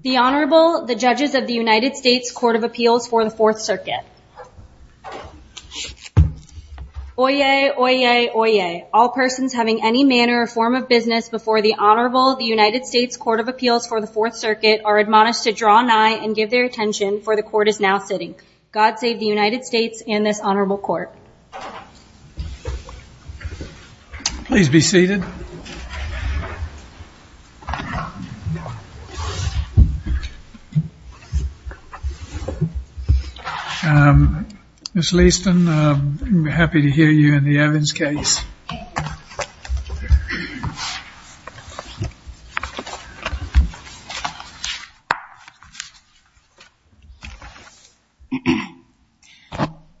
The Honorable the judges of the United States Court of Appeals for the Fourth Circuit. Oyez, oyez, oyez. All persons having any manner or form of business before the Honorable the United States Court of Appeals for the Fourth Circuit are admonished to draw nigh and give their attention for the court is now sitting. God save the United States and this Ms. Leaston, we're happy to hear you in the Evans case.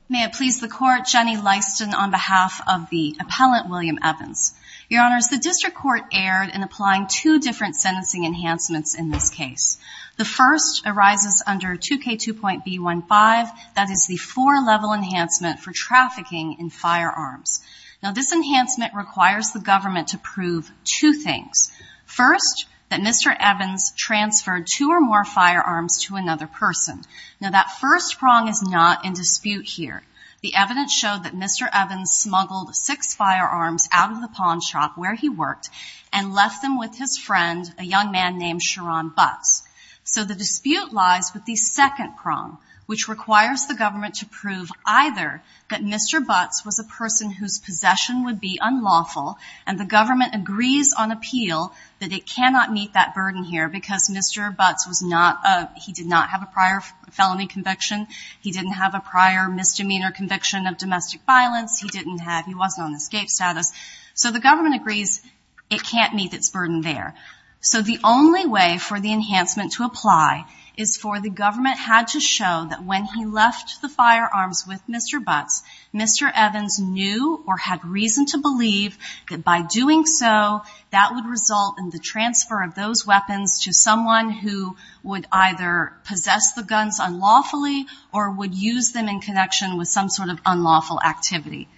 May it please the court Jenny Leaston on behalf of the appellant William Evans. Your honors, the district court erred in applying two different sentencing enhancements in this case. The first arises under 2k2.b15 that is the four level enhancement for trafficking in firearms. Now this enhancement requires the government to prove two things. First, that Mr. Evans transferred two or more firearms to another person. Now that first prong is not in dispute here. The evidence showed that Mr. Evans smuggled six firearms out of the pawn shop where he worked and left them with his friend, a young man named Sharon Butts. So the dispute lies with the second prong which requires the government to prove either that Mr. Butts was a person whose possession would be unlawful and the government agrees on appeal that it cannot meet that burden here because Mr. Butts was not, he did not have a prior felony conviction. He didn't have a prior misdemeanor conviction of domestic violence. He didn't have, he wasn't on escape status. So the government agrees it can't meet its burden there. So the only way for the enhancement to apply is for the government had to show that when he left the firearms with Mr. Butts, Mr. Evans knew or had reason to believe that by doing so that would result in the transfer of those weapons to someone who would either possess the guns unlawfully or would use them in connection with some sort of unlawful activity.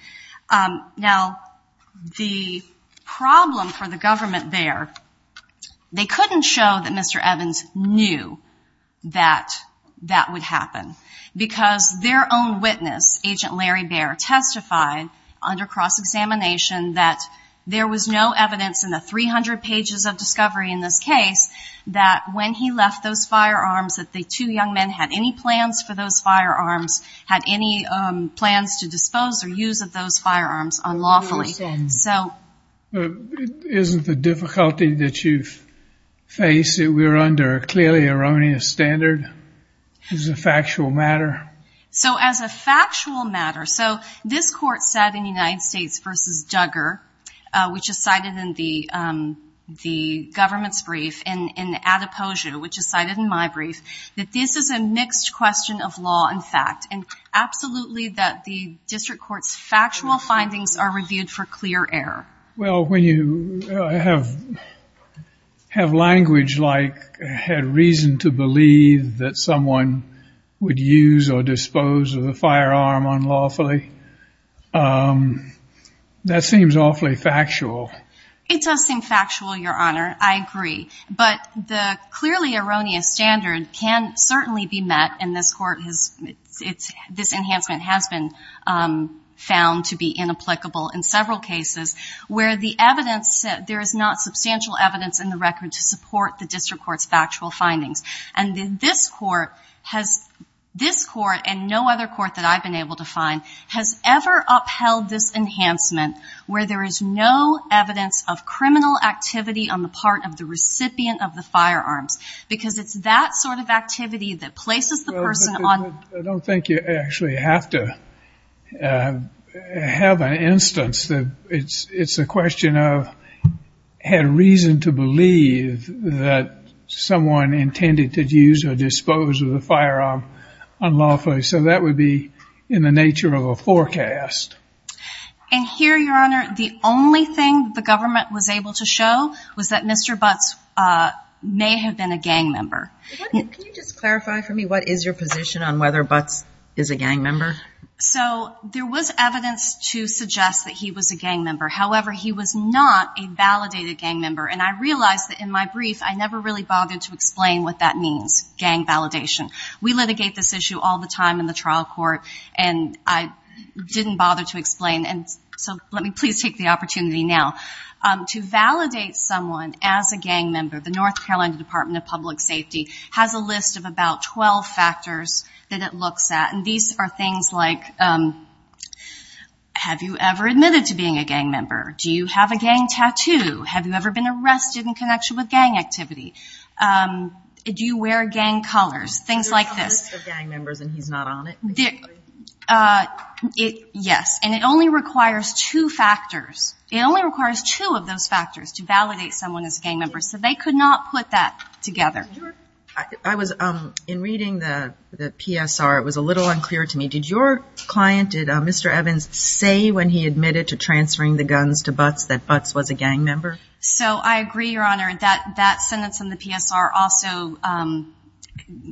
Now the problem for the government there, they couldn't show that Mr. Evans knew that that would happen because their own witness, Agent Larry Bear, testified under cross-examination that there was no that the two young men had any plans for those firearms, had any plans to dispose or use of those firearms unlawfully. So... Isn't the difficulty that you face that we're under a clearly erroneous standard as a factual matter? So as a factual matter, so this court sat in United States v. Duggar, which is cited in my brief, that this is a mixed question of law and fact and absolutely that the district court's factual findings are reviewed for clear error. Well, when you have language like had reason to believe that someone would use or dispose of the firearm unlawfully, that seems awfully factual. It does seem erroneous standard can certainly be met and this court has, this enhancement has been found to be inapplicable in several cases where the evidence, there is not substantial evidence in the record to support the district court's factual findings. And this court has, this court and no other court that I've been able to find, has ever upheld this enhancement where there is no evidence of criminal activity on the part of the recipient of the firearms. Because it's that sort of activity that places the person on... I don't think you actually have to have an instance that it's, it's a question of had reason to believe that someone intended to use or dispose of the firearm unlawfully. So that would be in the nature of a forecast. And here, Your Honor, the only thing the government was able to show was that Mr. Butts may have been a gang member. Can you just clarify for me what is your position on whether Butts is a gang member? So there was evidence to suggest that he was a gang member. However, he was not a validated gang member and I realized that in my brief I never really bothered to explain what that means, gang validation. We litigate this issue all the time in the past and I didn't bother to explain and so let me please take the opportunity now. To validate someone as a gang member, the North Carolina Department of Public Safety has a list of about 12 factors that it looks at and these are things like, have you ever admitted to being a gang member? Do you have a gang tattoo? Have you ever been arrested in connection with gang activity? Do you wear gang colors? Things like this. So there's a list of gang members and he's not on it? Yes. And it only requires two factors. It only requires two of those factors to validate someone as a gang member. So they could not put that together. In reading the PSR, it was a little unclear to me, did your client, did Mr. Evans say when he admitted to transferring the guns to Butts that Butts was a gang member? So I agree, Your Honor, that sentence in the PSR also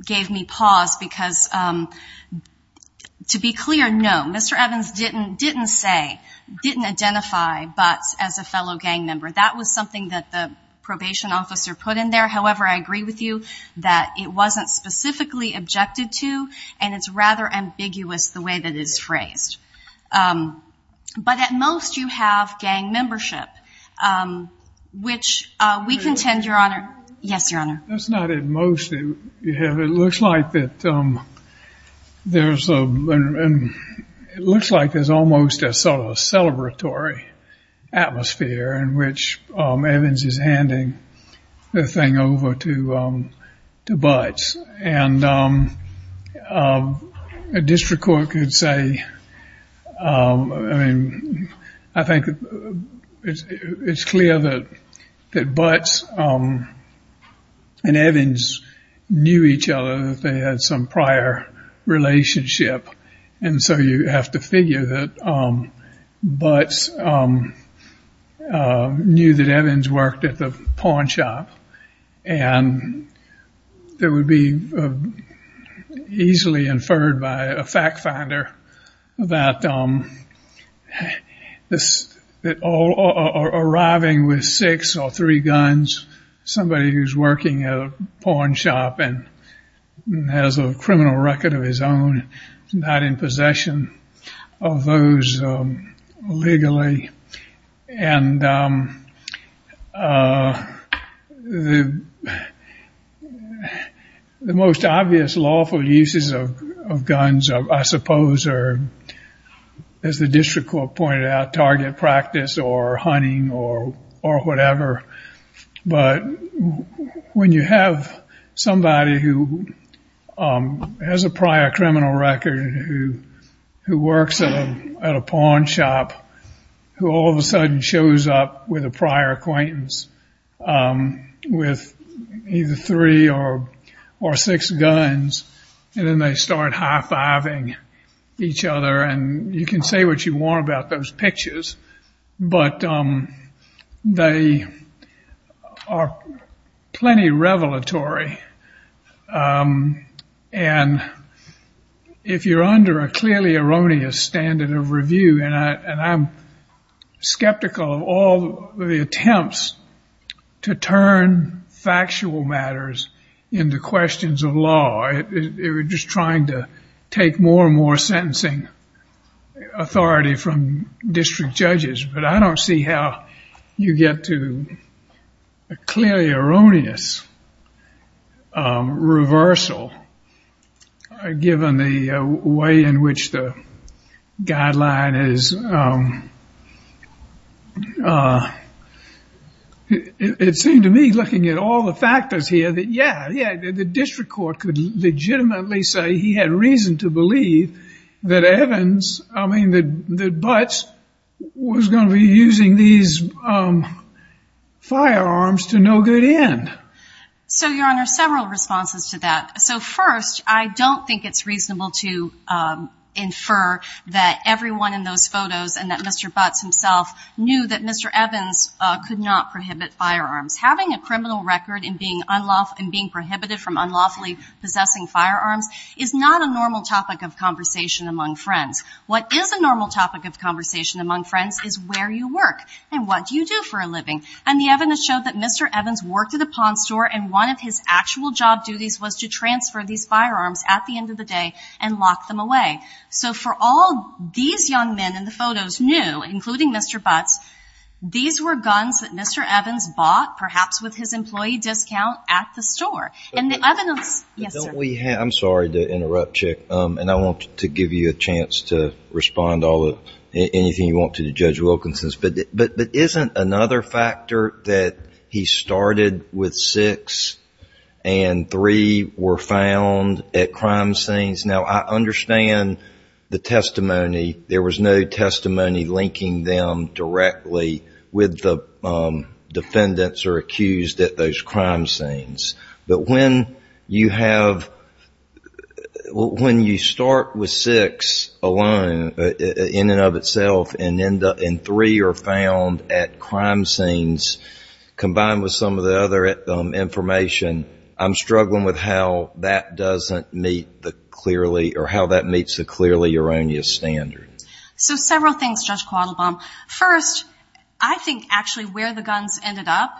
gave me pause because to be clear, no. Mr. Evans didn't say, didn't identify Butts as a fellow gang member. That was something that the probation officer put in there. However, I agree with you that it wasn't specifically objected to and it's rather ambiguous the way that it's phrased. But at most you have gang membership, which we contend, Your Honor. Yes, Your Honor. That's not at most. It looks like there's almost a sort of celebratory atmosphere in which Evans is handing the thing over to Butts. And a district court could say, I mean, I think it's clear that Butts and Evans knew each other, that they had some prior relationship. And so you have to figure that Butts knew that Evans worked at the pawn shop. And there would be easily inferred by a fact finder that all arriving with six or three guns, somebody who's working at a pawn shop and has a criminal record of his own, is not in possession of those legally. And the most obvious lawful uses of guns, I suppose, are, as the district court pointed out, target practice or hunting or whatever. But when you have somebody who has a prior criminal record, who works at a pawn shop, who all of a sudden shows up with a prior acquaintance with either three or six guns, and then they start high-fiving each other. And you can say what you want about those pictures. But they are plenty revelatory. And if you're under a clearly erroneous standard of review, and I'm skeptical of all the attempts to turn factual matters into questions of law. They were just trying to take more and more sentencing authority from district judges. But I don't see how you get to a clearly erroneous reversal, given the way in which the guideline is. It seemed to me, looking at all the factors here, that yeah, the district court could legitimately say he had reason to believe that Butts was going to be using these firearms to no good end. So, Your Honor, several responses to that. So first, I don't think it's reasonable to infer that everyone in those photos and that Mr. Butts himself knew that Mr. Evans could not prohibit firearms. Having a criminal record and being prohibited from unlawfully possessing firearms is not a normal topic of conversation among friends. What is a normal topic of conversation among friends is where you work and what you do for a living. And the evidence showed that Mr. Evans worked at a pawn store, and one of his actual job duties was to transfer these firearms at the end of the day and lock them away. So for all these young men in the photos knew, including Mr. Butts, these were guns that Mr. Evans bought, perhaps with his employee discount, at the store. I'm sorry to interrupt, Chick, and I want to give you a chance to respond to anything you want to Judge Wilkinson. But isn't another factor that he started with six and three were found at crime scenes? Now, I understand the testimony. There was no testimony linking them directly with the defendants or accused at those crime scenes. But when you have, when you start with six alone, in and of itself, and three are found at crime scenes, combined with some of the other information, I'm struggling with how that doesn't meet the clearly, or how that meets the clearly erroneous standard. So several things, Judge Quattlebaum. First, I think actually where the guns ended up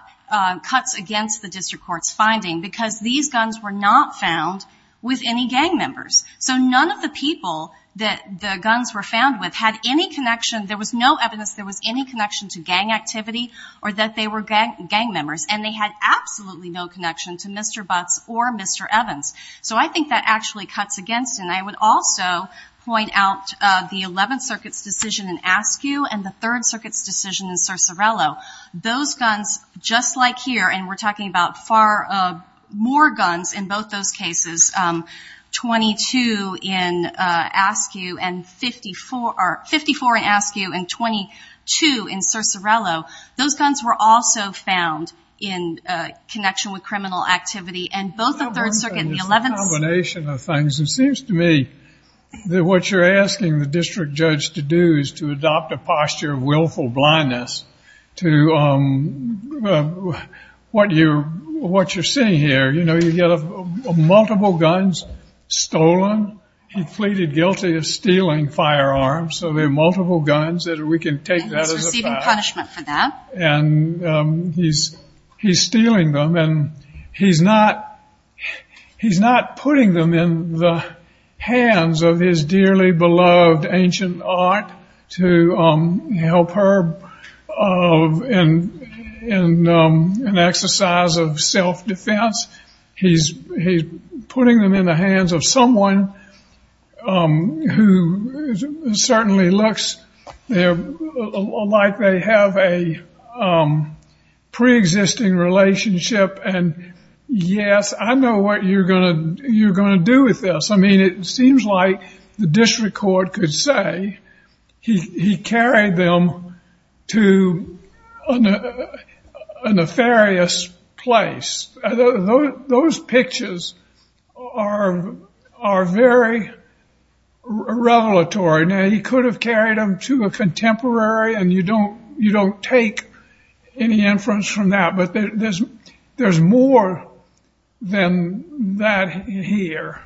cuts against the district court's finding, because these guns were not found with any gang members. So none of the people that the guns were found with had any connection, there was no evidence there was any connection to gang activity, or that they were gang members. And they had absolutely no connection to Mr. Butts or Mr. Evans. So I think that actually cuts against, and I would also point out the 11th Circuit's decision in Askew, and the 3rd Circuit's decision in Cercerello. Those guns, just like here, and we're talking about far more guns in both those cases, 22 in Askew, and 54 in Askew, and 22 in Cercerello. Those guns were also found in connection with criminal activity, and both the 3rd Circuit and the 11th. It's a combination of things. It seems to me that what you're asking the district judge to do is to adopt a posture of willful blindness to what you're seeing here. You know, you get multiple guns stolen, he pleaded guilty of stealing firearms, so there are multiple guns that we can take that as a fact. And he's stealing them, and he's not putting them in the hands of his dearly beloved ancient aunt to help her in an exercise of self-defense. He's putting them in the hands of someone who certainly looks like they have a pre-existing relationship, and yes, I know what you're going to do with this. I mean, it seems like the district court could say he carried them to a nefarious place. Those pictures are very revelatory. Now, he could have carried them to a contemporary, and you don't take any inference from that, but there's more than that here.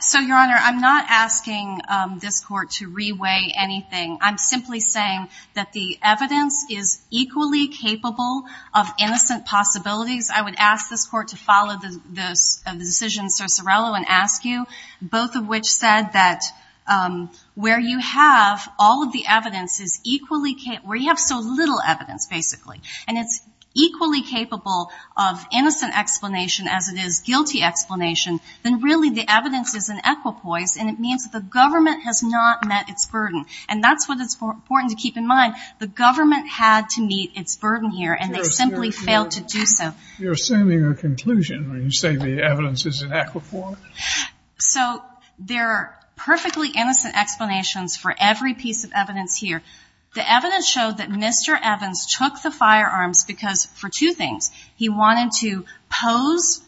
So, Your Honor, I'm not asking this court to re-weigh anything. I'm simply saying that the evidence is equally capable of innocent possibilities. I would ask this court to follow the decision of Sir Cerello and ask you, both of which said that where you have so little evidence, basically, and it's equally capable of innocent explanation as it is guilty explanation, then really the evidence is an equipoise, and it means that the government has not met its burden. And that's what it's important to keep in mind. The government had to meet its burden here, and they simply failed to do so. You're assuming a conclusion when you say the evidence is an equipoise? So, there are perfectly innocent explanations for every piece of evidence here. The evidence showed that Mr. Evans took the firearms because for two things. He was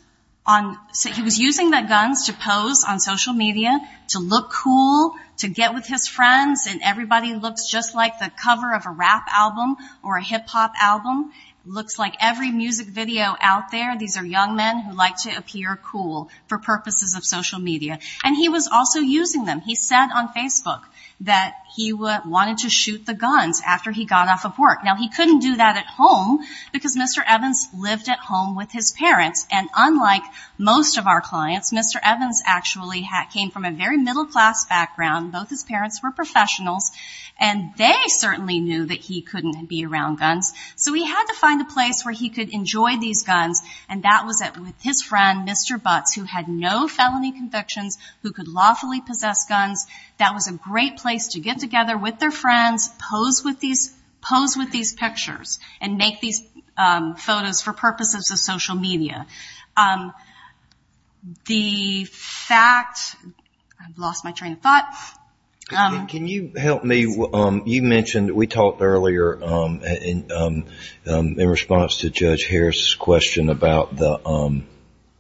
using the guns to pose on social media, to look cool, to get with his friends, and everybody looks just like the cover of a rap album or a hip-hop album. It looks like every music video out there, these are young men who like to appear cool for purposes of social media. And he was also using them. He said on Facebook that he wanted to shoot the guns after he got off of work. Now, he couldn't do that at home because Mr. Evans lived at home with his parents, and unlike most of our clients, Mr. Evans actually came from a very middle-class background. Both his parents were professionals, and they certainly knew that he couldn't be around guns. So, he had to find a place where he could enjoy these guns, and that was with his friend, Mr. Butts, who had no felony convictions, who could lawfully possess guns. That was a great place to get together with their friends, pose with these pictures, and make these photos for purposes of social media. The fact, I've lost my train of thought. Can you help me? You mentioned, we talked earlier in response to Judge Harris's question about the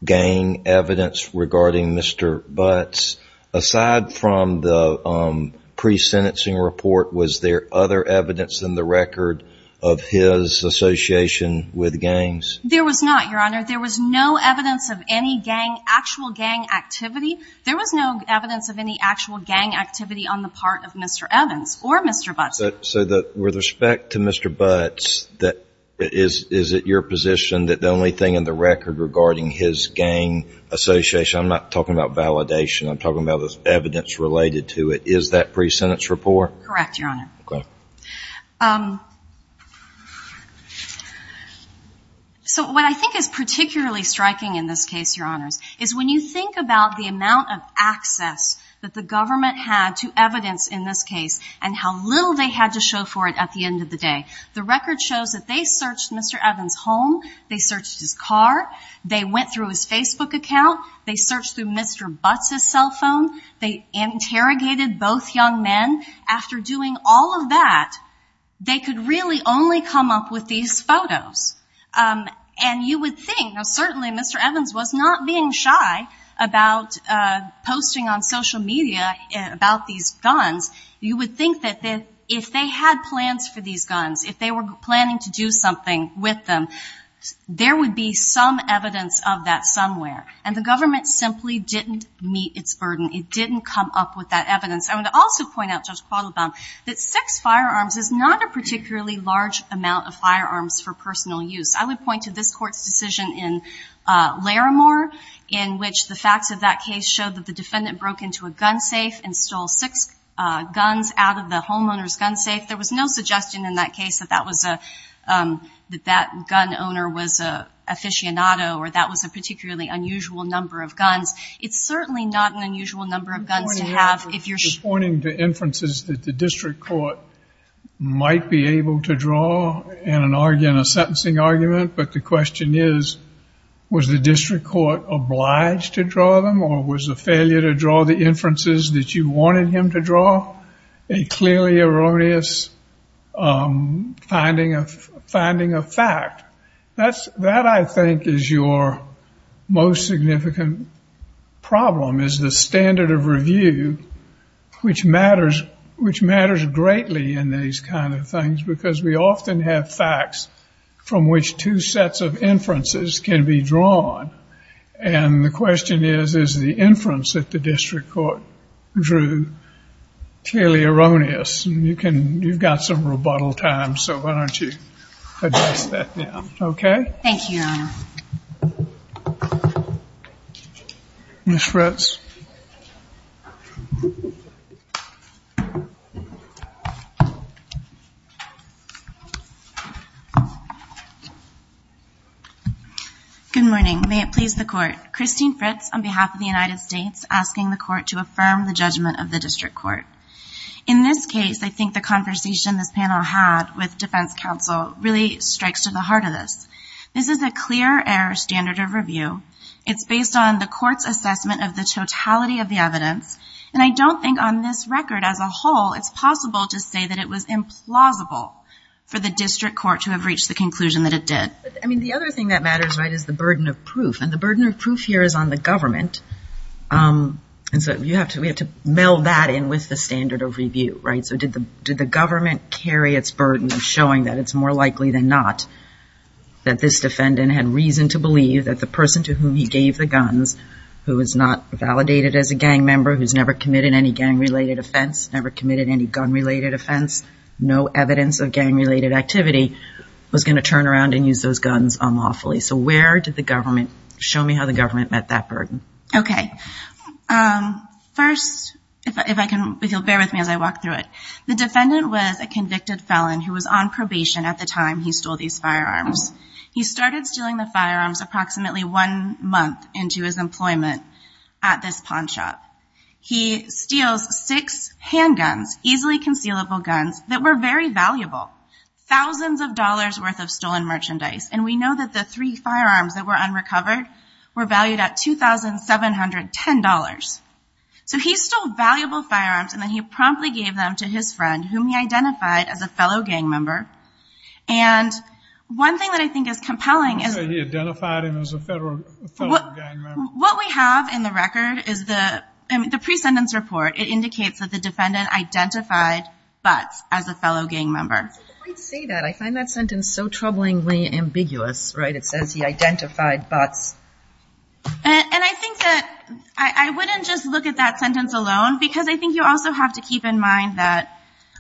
gang evidence regarding Mr. Butts. Aside from the pre-sentencing report, was there other evidence in the record of his association with gangs? There was not, Your Honor. There was no evidence of any gang, actual gang activity. There was no evidence of any actual gang activity on the part of Mr. Evans or Mr. Butts. So, with respect to Mr. Butts, is it your position that the only thing in the record regarding his gang association, I'm not talking about validation, I'm talking about evidence related to it, is that pre-sentence report? Correct, Your Honor. Okay. So, what I think is particularly striking in this case, Your Honors, is when you think about the amount of access that the government had to evidence in this case, and how little they had to show for it at the end of the day. The record shows that they searched Mr. Evans' home, they searched his car, they went through his Facebook account, they searched through Mr. Butts' cell phone, they interrogated both young men. After doing all of that, they could really only come up with these photos. And you would think, now certainly Mr. Evans was not being shy about posting on social media about these guns. You would think that if they had plans for these guns, if they were planning to do something with them, there would be some evidence of that somewhere. And the government simply didn't meet its burden. It didn't come up with that evidence. I would also point out, Judge Quattlebaum, that six firearms is not a particularly large amount of firearms for personal use. I would point to this Court's decision in Larimore, in which the facts of that case showed that the defendant broke into a gun safe and stole six guns out of the homeowner's gun safe. There was no suggestion in that case that that was a, that that gun owner was a aficionado, or that was a particularly unusual number of guns. It's certainly not an unusual number of guns to have if you're- You're pointing to inferences that the district court might be able to draw in a sentencing argument, but the question is, was the district court obliged to draw them, or was the failure to draw the inferences that you wanted him to draw a clearly erroneous finding of fact? That, I think, is your most significant problem, is the standard of review, which matters greatly in these kind of things, because we often have facts from which two sets of inferences can be drawn. And the question is, is the inference that the district court drew clearly erroneous? And you can, you've got some rebuttal time, so why don't you address that now. Okay? Thank you, Your Honor. Ms. Fritz. Good morning. May it please the Court. Christine Fritz, on behalf of the United States, asking the Court to affirm the judgment of the district court. In this case, I think the conversation this panel had with defense counsel really strikes to the heart of this. This is a clear error standard of review. It's based on the court's assessment of the totality of the evidence, and I don't think on this record as a whole it's possible to say that it was implausible for the district court to have reached the conclusion that it did. I mean, the other thing that matters, right, is the burden of proof, and the burden of proof here is on the government. And so we have to meld that in with the standard of review, right? So did the government carry its burden of showing that it's more likely than not that this defendant had reason to believe that the person to whom he gave the guns, who is not validated as a gang member, who's never committed any gang-related offense, never committed any gun-related offense, no evidence of gang-related activity, was going to turn around and use those guns unlawfully. So where did the government, show me how the government met that burden. Okay. First, if I can, if you'll bear with me as I walk through it. The defendant was a convicted felon who was on probation at the time he stole these firearms. He started stealing the firearms approximately one month into his employment at this pawn shop. He steals six handguns, easily concealable guns, that were very valuable, thousands of dollars' worth of stolen merchandise. And we know that the three firearms that were unrecovered were valued at $2,710. So he stole valuable firearms, and then he promptly gave them to his friend, whom he identified as a fellow gang member. And one thing that I think is compelling is... You say he identified him as a fellow gang member. What we have in the record is the pre-sentence report. It indicates that the defendant identified Butts as a fellow gang member. I find that sentence so troublingly ambiguous, right? It says he identified Butts. And I think that I wouldn't just look at that sentence alone, because I think you also have to keep in mind that,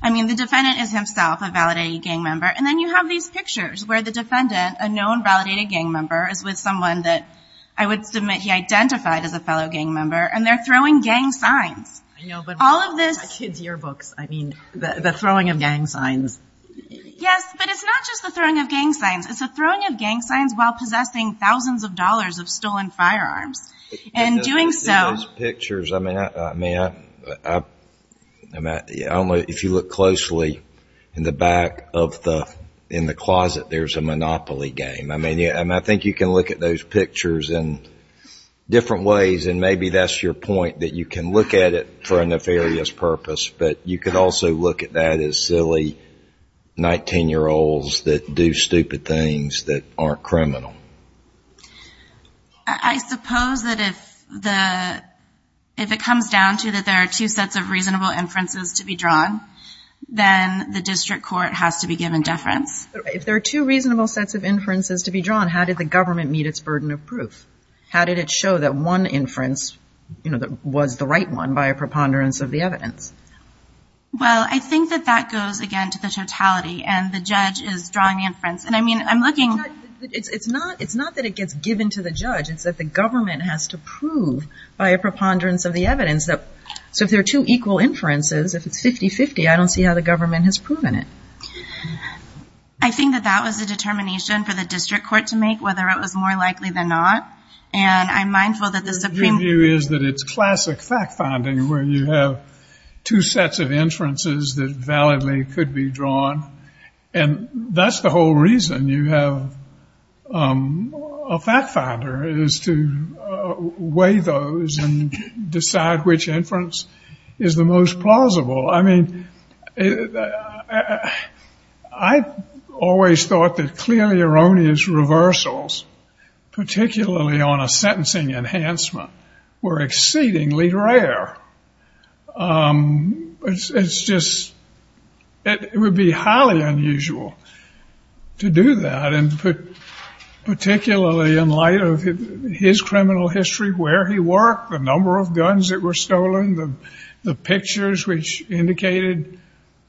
I mean, the defendant is himself a validated gang member. And then you have these pictures where the defendant, a known validated gang member, is with someone that I would submit he identified as a fellow gang member, and they're throwing gang signs. I know, but my kids' yearbooks, I mean, the throwing of gang signs. Yes, but it's not just the throwing of gang signs. It's the throwing of gang signs while possessing thousands of dollars of stolen firearms. And doing so... Those pictures, I mean, if you look closely in the back of the closet, there's a Monopoly game. I mean, I think you can look at those pictures in different ways, and maybe that's your point, that you can look at it for a nefarious purpose, but you could also look at that as silly 19-year-olds that do stupid things that aren't criminal. I suppose that if it comes down to that there are two sets of reasonable inferences to be drawn, then the district court has to be given deference. If there are two reasonable sets of inferences to be drawn, how did the government meet its burden of proof? How did it show that one inference was the right one by a preponderance of the evidence? Well, I think that that goes, again, to the totality, and the judge is drawing the inference. And, I mean, I'm looking... It's not that it gets given to the judge. It's that the government has to prove by a preponderance of the evidence. So if there are two equal inferences, if it's 50-50, I don't see how the government has proven it. I think that that was a determination for the district court to make, whether it was more likely than not. And I'm mindful that the Supreme Court... Your view is that it's classic fact-finding, where you have two sets of inferences that validly could be drawn, and that's the whole reason you have a fact-finder, is to weigh those and decide which inference is the most plausible. I mean, I always thought that clearly erroneous reversals, particularly on a sentencing enhancement, were exceedingly rare. It's just... It would be highly unusual to do that, and particularly in light of his criminal history, where he worked, the number of guns that were stolen, the pictures which indicated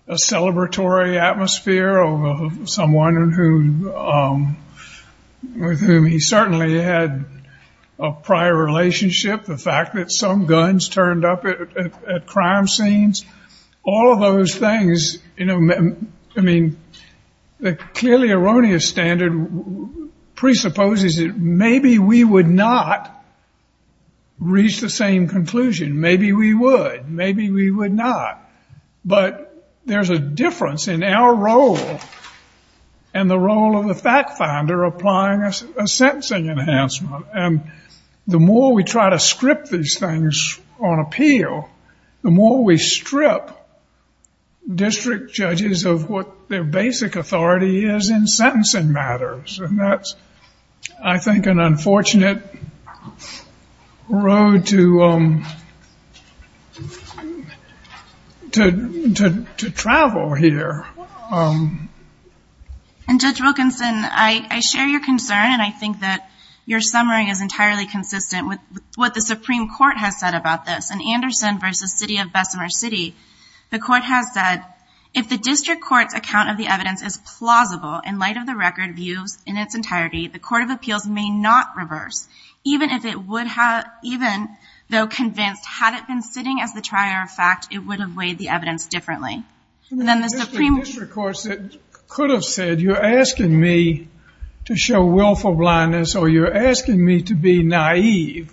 a celebratory atmosphere of someone with whom he certainly had a prior relationship, the fact that some guns turned up at crime scenes. All of those things... I mean, the clearly erroneous standard presupposes that maybe we would not reach the same conclusion. Maybe we would. Maybe we would not. But there's a difference in our role and the role of the fact-finder applying a sentencing enhancement. And the more we try to script these things on appeal, the more we strip district judges of what their basic authority is in sentencing matters, and that's, I think, an unfortunate road to travel here. And Judge Wilkinson, I share your concern, and I think that your summary is entirely consistent with what the Supreme Court has said about this. In Anderson v. City of Bessemer City, the Court has said, if the district court's account of the evidence is plausible in light of the record views in its entirety, the Court of Appeals may not reverse, even though convinced, had it been sitting as the trier of fact, it would have weighed the evidence differently. And then the Supreme Court... The district courts could have said, you're asking me to show willful blindness or you're asking me to be naive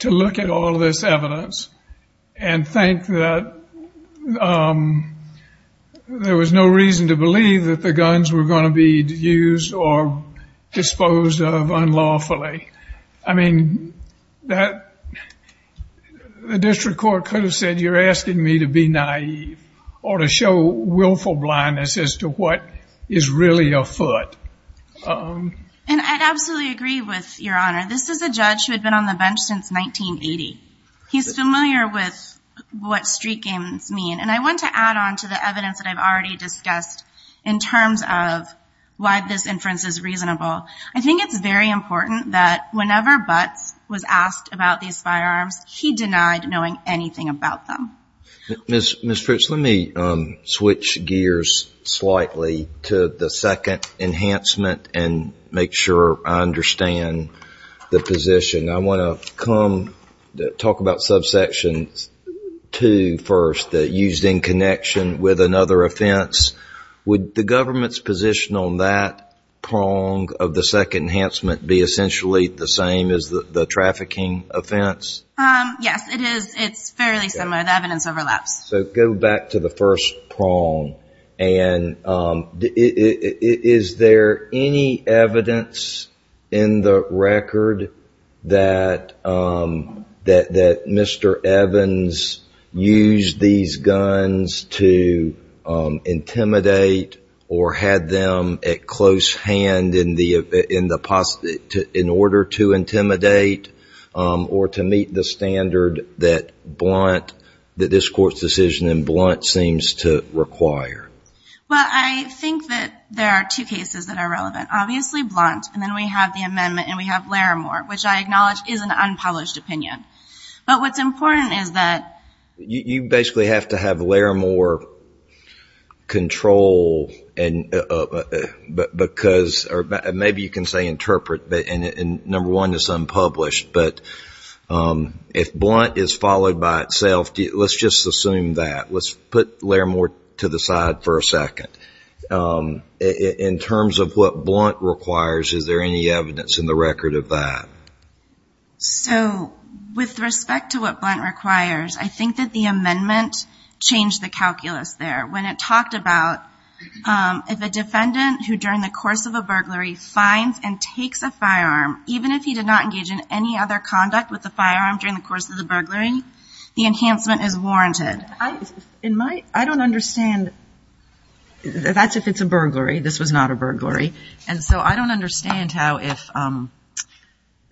to look at all this evidence and think that there was no reason to believe that the guns were going to be used or disposed of unlawfully. I mean, the district court could have said, you're asking me to be naive or to show willful blindness as to what is really afoot. And I absolutely agree with Your Honor. This is a judge who had been on the bench since 1980. He's familiar with what street games mean. And I want to add on to the evidence that I've already discussed in terms of why this inference is reasonable. I think it's very important that whenever Butts was asked about these firearms, he denied knowing anything about them. Ms. Fitch, let me switch gears slightly to the second enhancement and make sure I understand the position. I want to talk about subsection 2 first, that used in connection with another offense. Would the government's position on that prong of the second enhancement be essentially the same as the trafficking offense? Yes, it is. It's fairly similar. The evidence overlaps. So go back to the first prong. And is there any evidence in the record that Mr. Evans used these guns to intimidate or had them at close hand in order to intimidate or to meet the standard that Blunt, that this Court's decision in Blunt seems to require? Well, I think that there are two cases that are relevant. Obviously Blunt, and then we have the amendment, and we have Larimore, which I acknowledge is an unpublished opinion. But what's important is that you basically have to have Larimore control, or maybe you can say interpret, and number one, it's unpublished. But if Blunt is followed by itself, let's just assume that. Let's put Larimore to the side for a second. In terms of what Blunt requires, is there any evidence in the record of that? So with respect to what Blunt requires, I think that the amendment changed the calculus there. When it talked about if a defendant who during the course of a burglary finds and takes a firearm, even if he did not engage in any other conduct with the firearm during the course of the burglary, the enhancement is warranted. I don't understand. That's if it's a burglary. This was not a burglary. And so I don't understand how if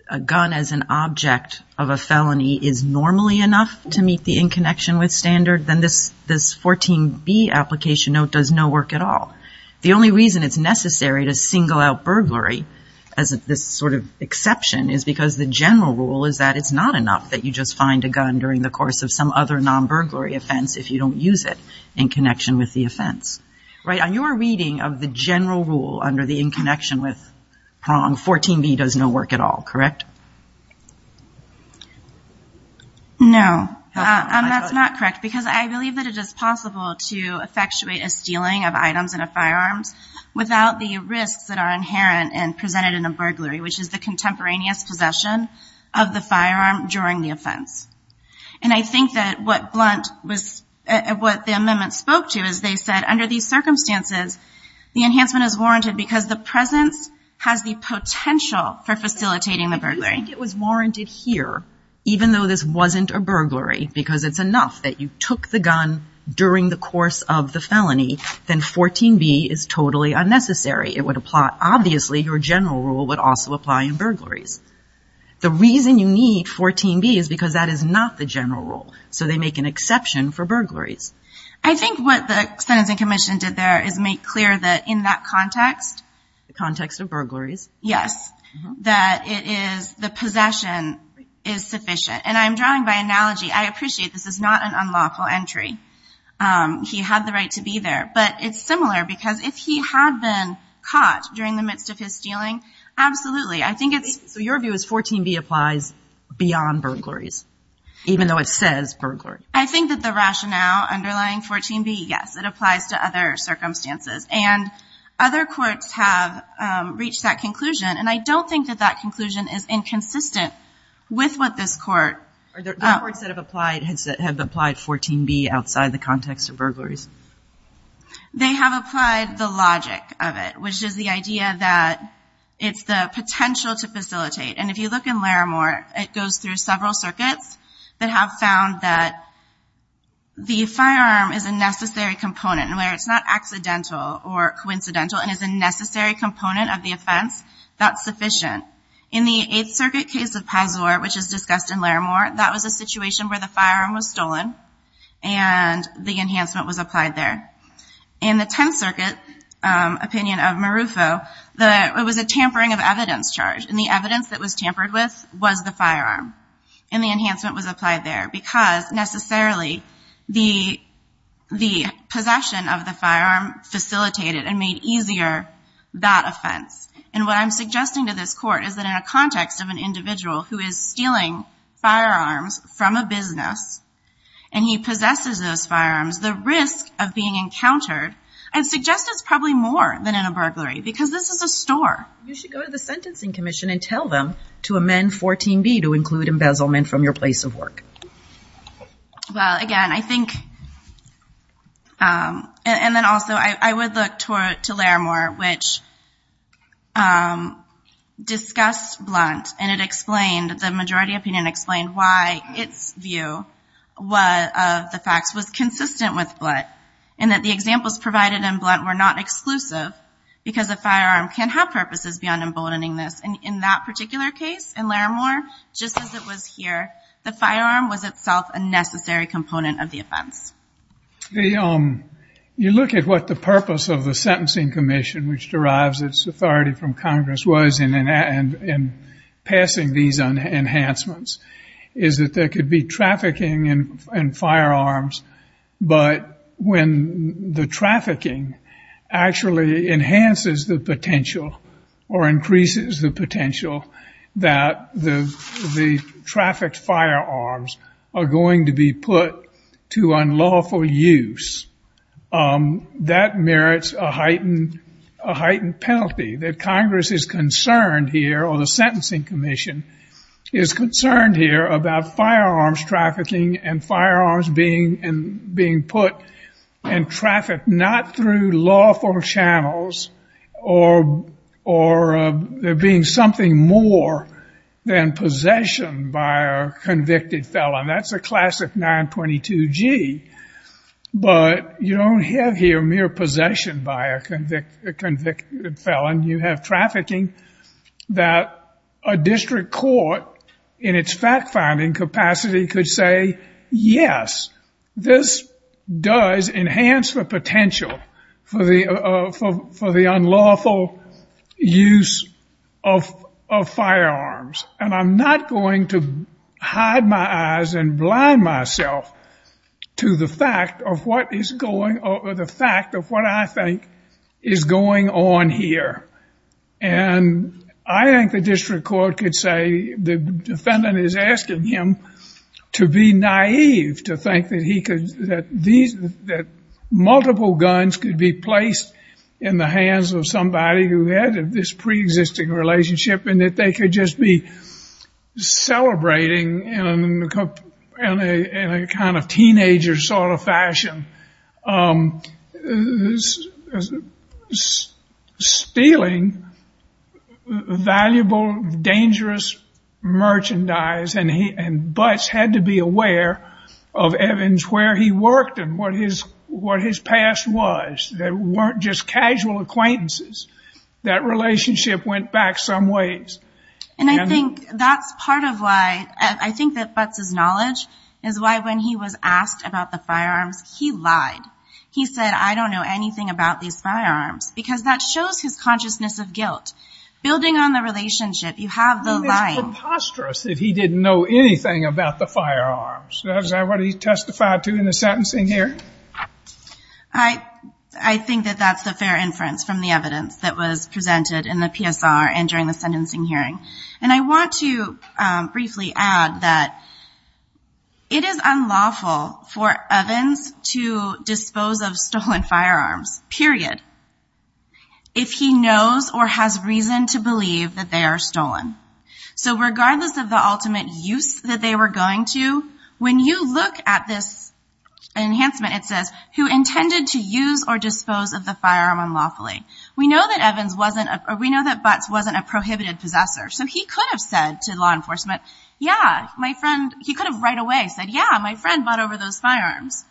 a gun as an object of a felony is normally enough to meet the in connection with standard, then this 14B application note does no work at all. The only reason it's necessary to single out burglary as this sort of exception is because the general rule is that it's not enough that you just find a gun during the course of some other non-burglary offense if you don't use it in connection with the offense. Right? On your reading of the general rule under the in connection with prong, 14B does no work at all. Correct? No. That's not correct because I believe that it is possible to effectuate a stealing of items in a firearms without the risks that are inherent and presented in a burglary, which is the contemporaneous possession of the firearm during the offense. And I think that what Blunt was, what the amendment spoke to is they said under these circumstances, the enhancement is warranted because the presence has the potential for facilitating the burglary. I don't think it was warranted here, even though this wasn't a burglary, because it's enough that you took the gun during the course of the felony, then 14B is totally unnecessary. It would apply, obviously, your general rule would also apply in burglaries. The reason you need 14B is because that is not the general rule. So they make an exception for burglaries. I think what the sentencing commission did there is make clear that in that context. The context of burglaries. Yes. That it is the possession is sufficient. And I'm drawing by analogy. I appreciate this is not an unlawful entry. He had the right to be there. But it's similar because if he had been caught during the midst of his stealing, absolutely. So your view is 14B applies beyond burglaries, even though it says burglary. I think that the rationale underlying 14B, yes, it applies to other circumstances. And other courts have reached that conclusion. And I don't think that that conclusion is inconsistent with what this court. Are there other courts that have applied 14B outside the context of burglaries? They have applied the logic of it, which is the idea that it's the potential to facilitate. And if you look in Laramore, it goes through several circuits that have found that the firearm is a necessary component. And where it's not accidental or coincidental and is a necessary component of the offense, that's sufficient. In the Eighth Circuit case of Pazur, which is discussed in Laramore, that was a situation where the firearm was stolen. And the enhancement was applied there. In the Tenth Circuit opinion of Marufo, it was a tampering of evidence charge. And the evidence that was tampered with was the firearm. And the enhancement was applied there because necessarily the possession of the firearm facilitated and made easier that offense. And what I'm suggesting to this court is that in a context of an individual who is stealing firearms from a business and he possesses those firearms, the risk of being encountered, I'd suggest it's probably more than in a burglary because this is a store. You should go to the Sentencing Commission and tell them to amend 14B to include embezzlement from your place of work. Well, again, I think, and then also I would look to Laramore, which discussed Blunt and it explained, the majority opinion explained why its view of the facts was consistent with Blunt. And that the examples provided in Blunt were not exclusive because a firearm can have purposes beyond emboldening this. And in that particular case in Laramore, just as it was here, the firearm was itself a necessary component of the offense. You look at what the purpose of the Sentencing Commission, which derives its authority from Congress, was in passing these enhancements, is that there could be trafficking in firearms, but when the trafficking actually enhances the potential or increases the potential, that the trafficked firearms are going to be put to unlawful use, that merits a heightened penalty. That Congress is concerned here, or the Sentencing Commission is concerned here, about firearms trafficking and firearms being put in traffic not through lawful channels or there being something more than possession by a convicted felon. That's a classic 922G, but you don't have here mere possession by a convicted felon. You have trafficking that a district court, in its fact-finding capacity, could say, yes, this does enhance the potential for the unlawful use of firearms. And I'm not going to hide my eyes and blind myself to the fact of what I think is going on here. And I think the district court could say the defendant is asking him to be naive, to think that multiple guns could be placed in the hands of somebody who had this pre-existing relationship and that they could just be celebrating in a kind of teenager sort of fashion. Stealing valuable, dangerous merchandise. And Butts had to be aware of Evans, where he worked and what his past was. They weren't just casual acquaintances. That relationship went back some ways. And I think that's part of why, I think that Butts' knowledge is why when he was asked about the firearms, he lied. He said, I don't know anything about these firearms, because that shows his consciousness of guilt. Building on the relationship, you have the lying. It's preposterous that he didn't know anything about the firearms. Is that what he testified to in the sentencing here? I think that that's the fair inference from the evidence that was presented in the PSR and during the sentencing hearing. And I want to briefly add that it is unlawful for Evans to dispose of stolen firearms, period, if he knows or has reason to believe that they are stolen. So regardless of the ultimate use that they were going to, when you look at this enhancement, it says, who intended to use or dispose of the firearm unlawfully. We know that Butts wasn't a prohibited possessor. So he could have said to law enforcement, yeah, my friend, he could have right away said, yeah, my friend bought over those firearms.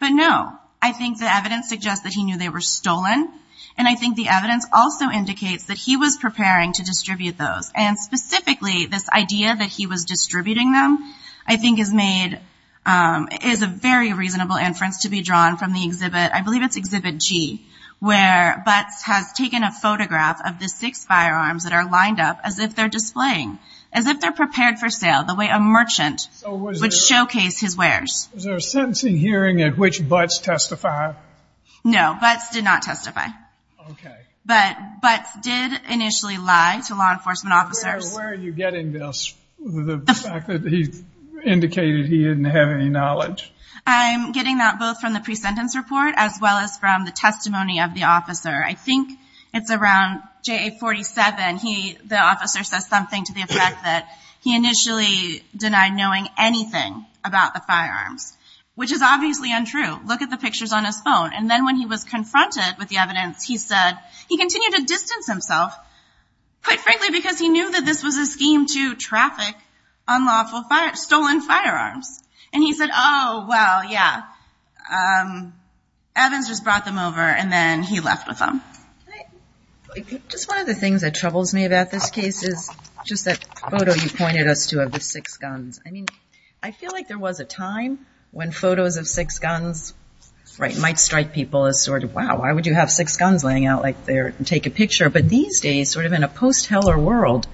But no, I think the evidence suggests that he knew they were stolen. And I think the evidence also indicates that he was preparing to distribute those. And specifically, this idea that he was distributing them, I think, is made ñ is a very reasonable inference to be drawn from the exhibit. I believe it's Exhibit G, where Butts has taken a photograph of the six firearms that are lined up as if they're displaying, as if they're prepared for sale, the way a merchant would showcase his wares. Was there a sentencing hearing at which Butts testified? No, Butts did not testify. Okay. But Butts did initially lie to law enforcement officers. Where are you getting this, the fact that he indicated he didn't have any knowledge? I'm getting that both from the pre-sentence report as well as from the testimony of the officer. I think it's around JA-47. The officer says something to the effect that he initially denied knowing anything about the firearms, which is obviously untrue. Look at the pictures on his phone. And then when he was confronted with the evidence, he said he continued to distance himself, quite frankly, because he knew that this was a scheme to traffic unlawful stolen firearms. And he said, oh, well, yeah. Evans just brought them over, and then he left with them. Just one of the things that troubles me about this case is just that photo you pointed us to of the six guns. I mean, I feel like there was a time when photos of six guns might strike people as sort of, wow, why would you have six guns laying out there and take a picture? But these days, sort of in a post-Heller world,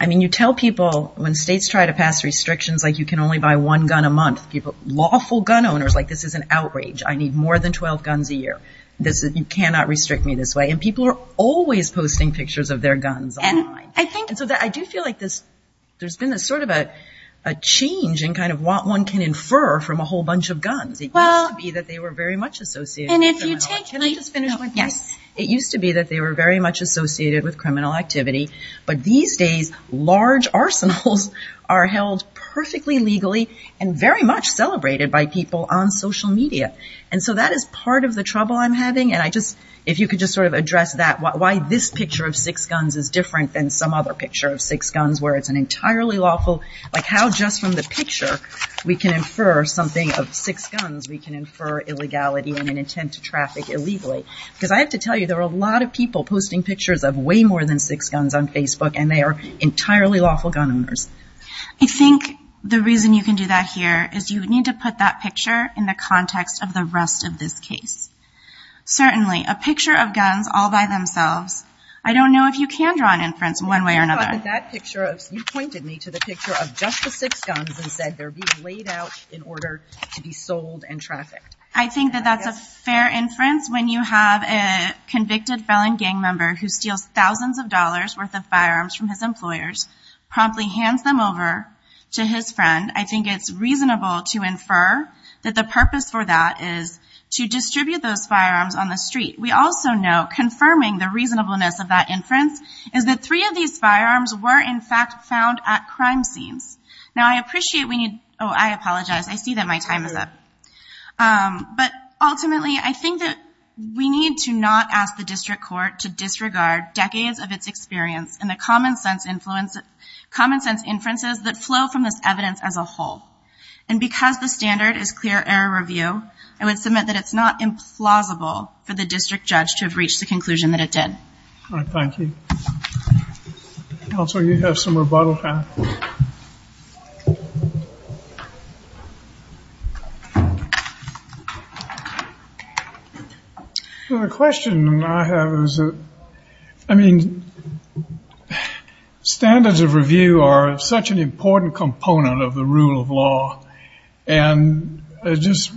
I mean, you tell people when states try to pass restrictions, like you can only buy one gun a month. Lawful gun owners, like this is an outrage. I need more than 12 guns a year. You cannot restrict me this way. And people are always posting pictures of their guns online. And so I do feel like there's been sort of a change in kind of what one can infer from a whole bunch of guns. It used to be that they were very much associated with criminal activity. It used to be that they were very much associated with criminal activity. But these days, large arsenals are held perfectly legally and very much celebrated by people on social media. And so that is part of the trouble I'm having. And I just, if you could just sort of address that, why this picture of six guns is different than some other picture of six guns, where it's an entirely lawful, like how just from the picture we can infer something of six guns, we can infer illegality and an intent to traffic illegally. Because I have to tell you, there are a lot of people posting pictures of way more than six guns on Facebook, and they are entirely lawful gun owners. I think the reason you can do that here is you need to put that picture in the context of the rest of this case. Certainly, a picture of guns all by themselves. I don't know if you can draw an inference one way or another. You pointed me to the picture of just the six guns and said they're being laid out in order to be sold and trafficked. I think that that's a fair inference when you have a convicted felon gang member who steals thousands of dollars' worth of firearms from his employers, promptly hands them over to his friend. I think it's reasonable to infer that the purpose for that is to distribute those firearms on the street. We also know, confirming the reasonableness of that inference, is that three of these firearms were, in fact, found at crime scenes. Now, I appreciate we need – oh, I apologize. I see that my time is up. But ultimately, I think that we need to not ask the district court to disregard decades of its experience and the common sense inferences that flow from this evidence as a whole. And because the standard is clear error review, I would submit that it's not implausible for the district judge to have reached the conclusion that it did. All right, thank you. Counsel, you have some rebuttal time. The question I have is, I mean, standards of review are such an important component of the rule of law. And just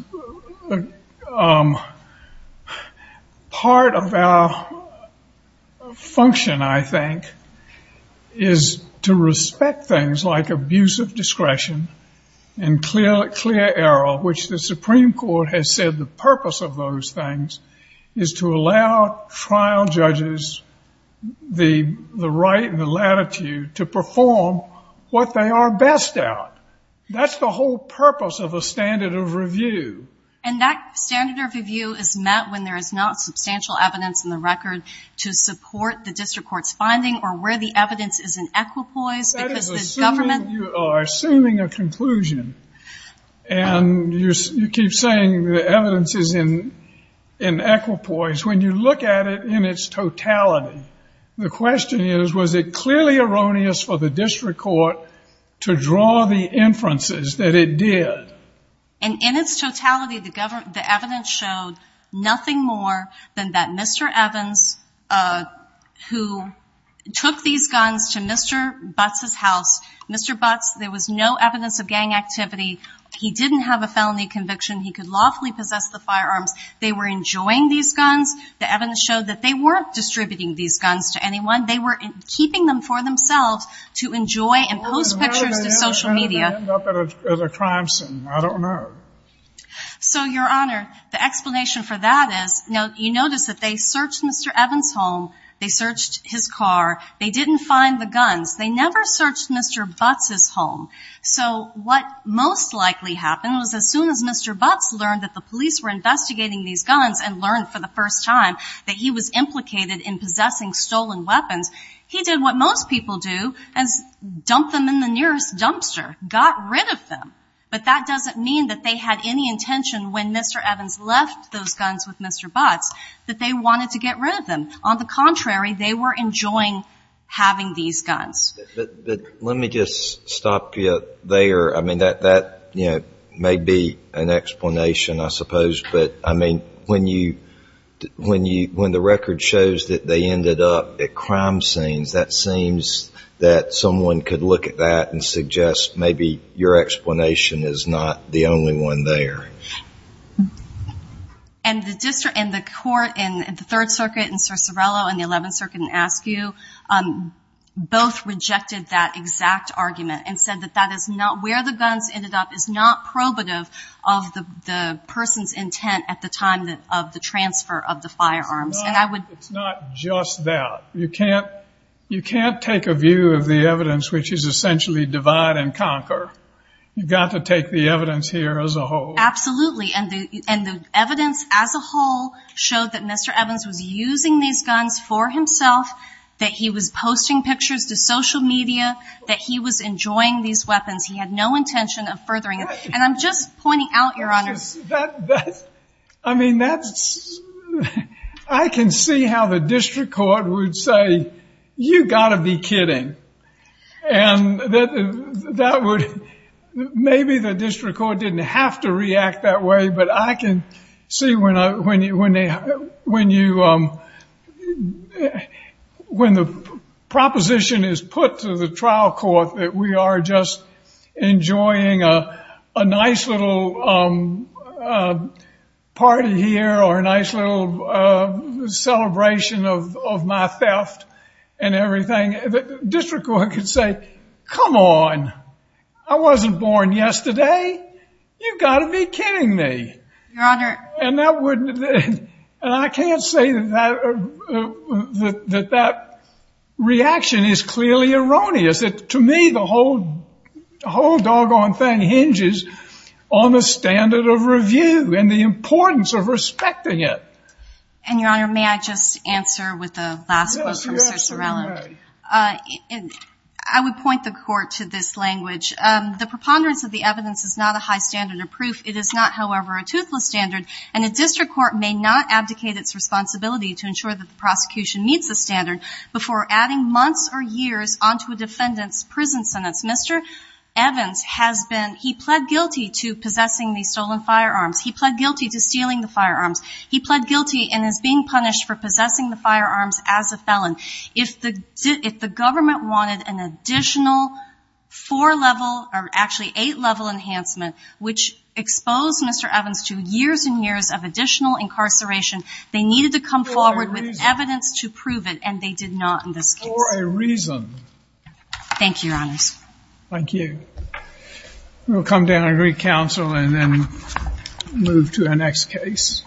part of our function, I think, is to respect things like abuse of discretion and clear error, which the Supreme Court has said the purpose of those things is to allow trial judges the right and the latitude to perform what they are best at. That's the whole purpose of a standard of review. And that standard of review is met when there is not substantial evidence in the record to support the district court's finding or where the evidence is in equipoise because the government – You are assuming a conclusion. And you keep saying the evidence is in equipoise. When you look at it in its totality, the question is, was it clearly erroneous for the district court to draw the inferences that it did? And in its totality, the evidence showed nothing more than that Mr. Evans, who took these guns to Mr. Butts' house, Mr. Butts, there was no evidence of gang activity. He didn't have a felony conviction. He could lawfully possess the firearms. They were enjoying these guns. The evidence showed that they weren't distributing these guns to anyone. They were keeping them for themselves to enjoy and post pictures to social media. Where did they end up at a crime scene? I don't know. So, Your Honor, the explanation for that is – Now, you notice that they searched Mr. Evans' home. They searched his car. They didn't find the guns. They never searched Mr. Butts' home. So what most likely happened was as soon as Mr. Butts learned that the police were investigating these guns and learned for the first time that he was implicated in possessing stolen weapons, he did what most people do, dump them in the nearest dumpster, got rid of them. But that doesn't mean that they had any intention when Mr. Evans left those guns with Mr. Butts that they wanted to get rid of them. On the contrary, they were enjoying having these guns. But let me just stop you there. I mean, that may be an explanation, I suppose. But, I mean, when the record shows that they ended up at crime scenes, that seems that someone could look at that and suggest maybe your explanation is not the only one there. And the court in the Third Circuit and Cicerello in the Eleventh Circuit in Askew both rejected that exact argument and said that that is not where the guns ended up, is not probative of the person's intent at the time of the transfer of the firearms. It's not just that. You can't take a view of the evidence which is essentially divide and conquer. You've got to take the evidence here as a whole. Absolutely. And the evidence as a whole showed that Mr. Evans was using these guns for himself, that he was posting pictures to social media, that he was enjoying these weapons. He had no intention of furthering them. And I'm just pointing out, Your Honor. I mean, I can see how the district court would say, you've got to be kidding. And maybe the district court didn't have to react that way, but I can see when the proposition is put to the trial court that we are just enjoying a nice little party here or a nice little celebration of my theft and everything. The district court could say, come on, I wasn't born yesterday. You've got to be kidding me. Your Honor. And I can't say that that reaction is clearly erroneous. To me, the whole doggone thing hinges on the standard of review and the importance of respecting it. And, Your Honor, may I just answer with the last quote from Mr. Sorella? Yes, you may. I would point the court to this language. The preponderance of the evidence is not a high standard of proof. It is not, however, a toothless standard, and a district court may not abdicate its responsibility to ensure that the prosecution meets the standard before adding months or years onto a defendant's prison sentence. Mr. Evans has been, he pled guilty to possessing these stolen firearms. He pled guilty to stealing the firearms. He pled guilty and is being punished for possessing the firearms as a felon. If the government wanted an additional four-level, or actually eight-level enhancement, which exposed Mr. Evans to years and years of additional incarceration, they needed to come forward with evidence to prove it, and they did not in this case. For a reason. Thank you, Your Honors. Thank you. We'll come down and re-counsel and then move to our next case.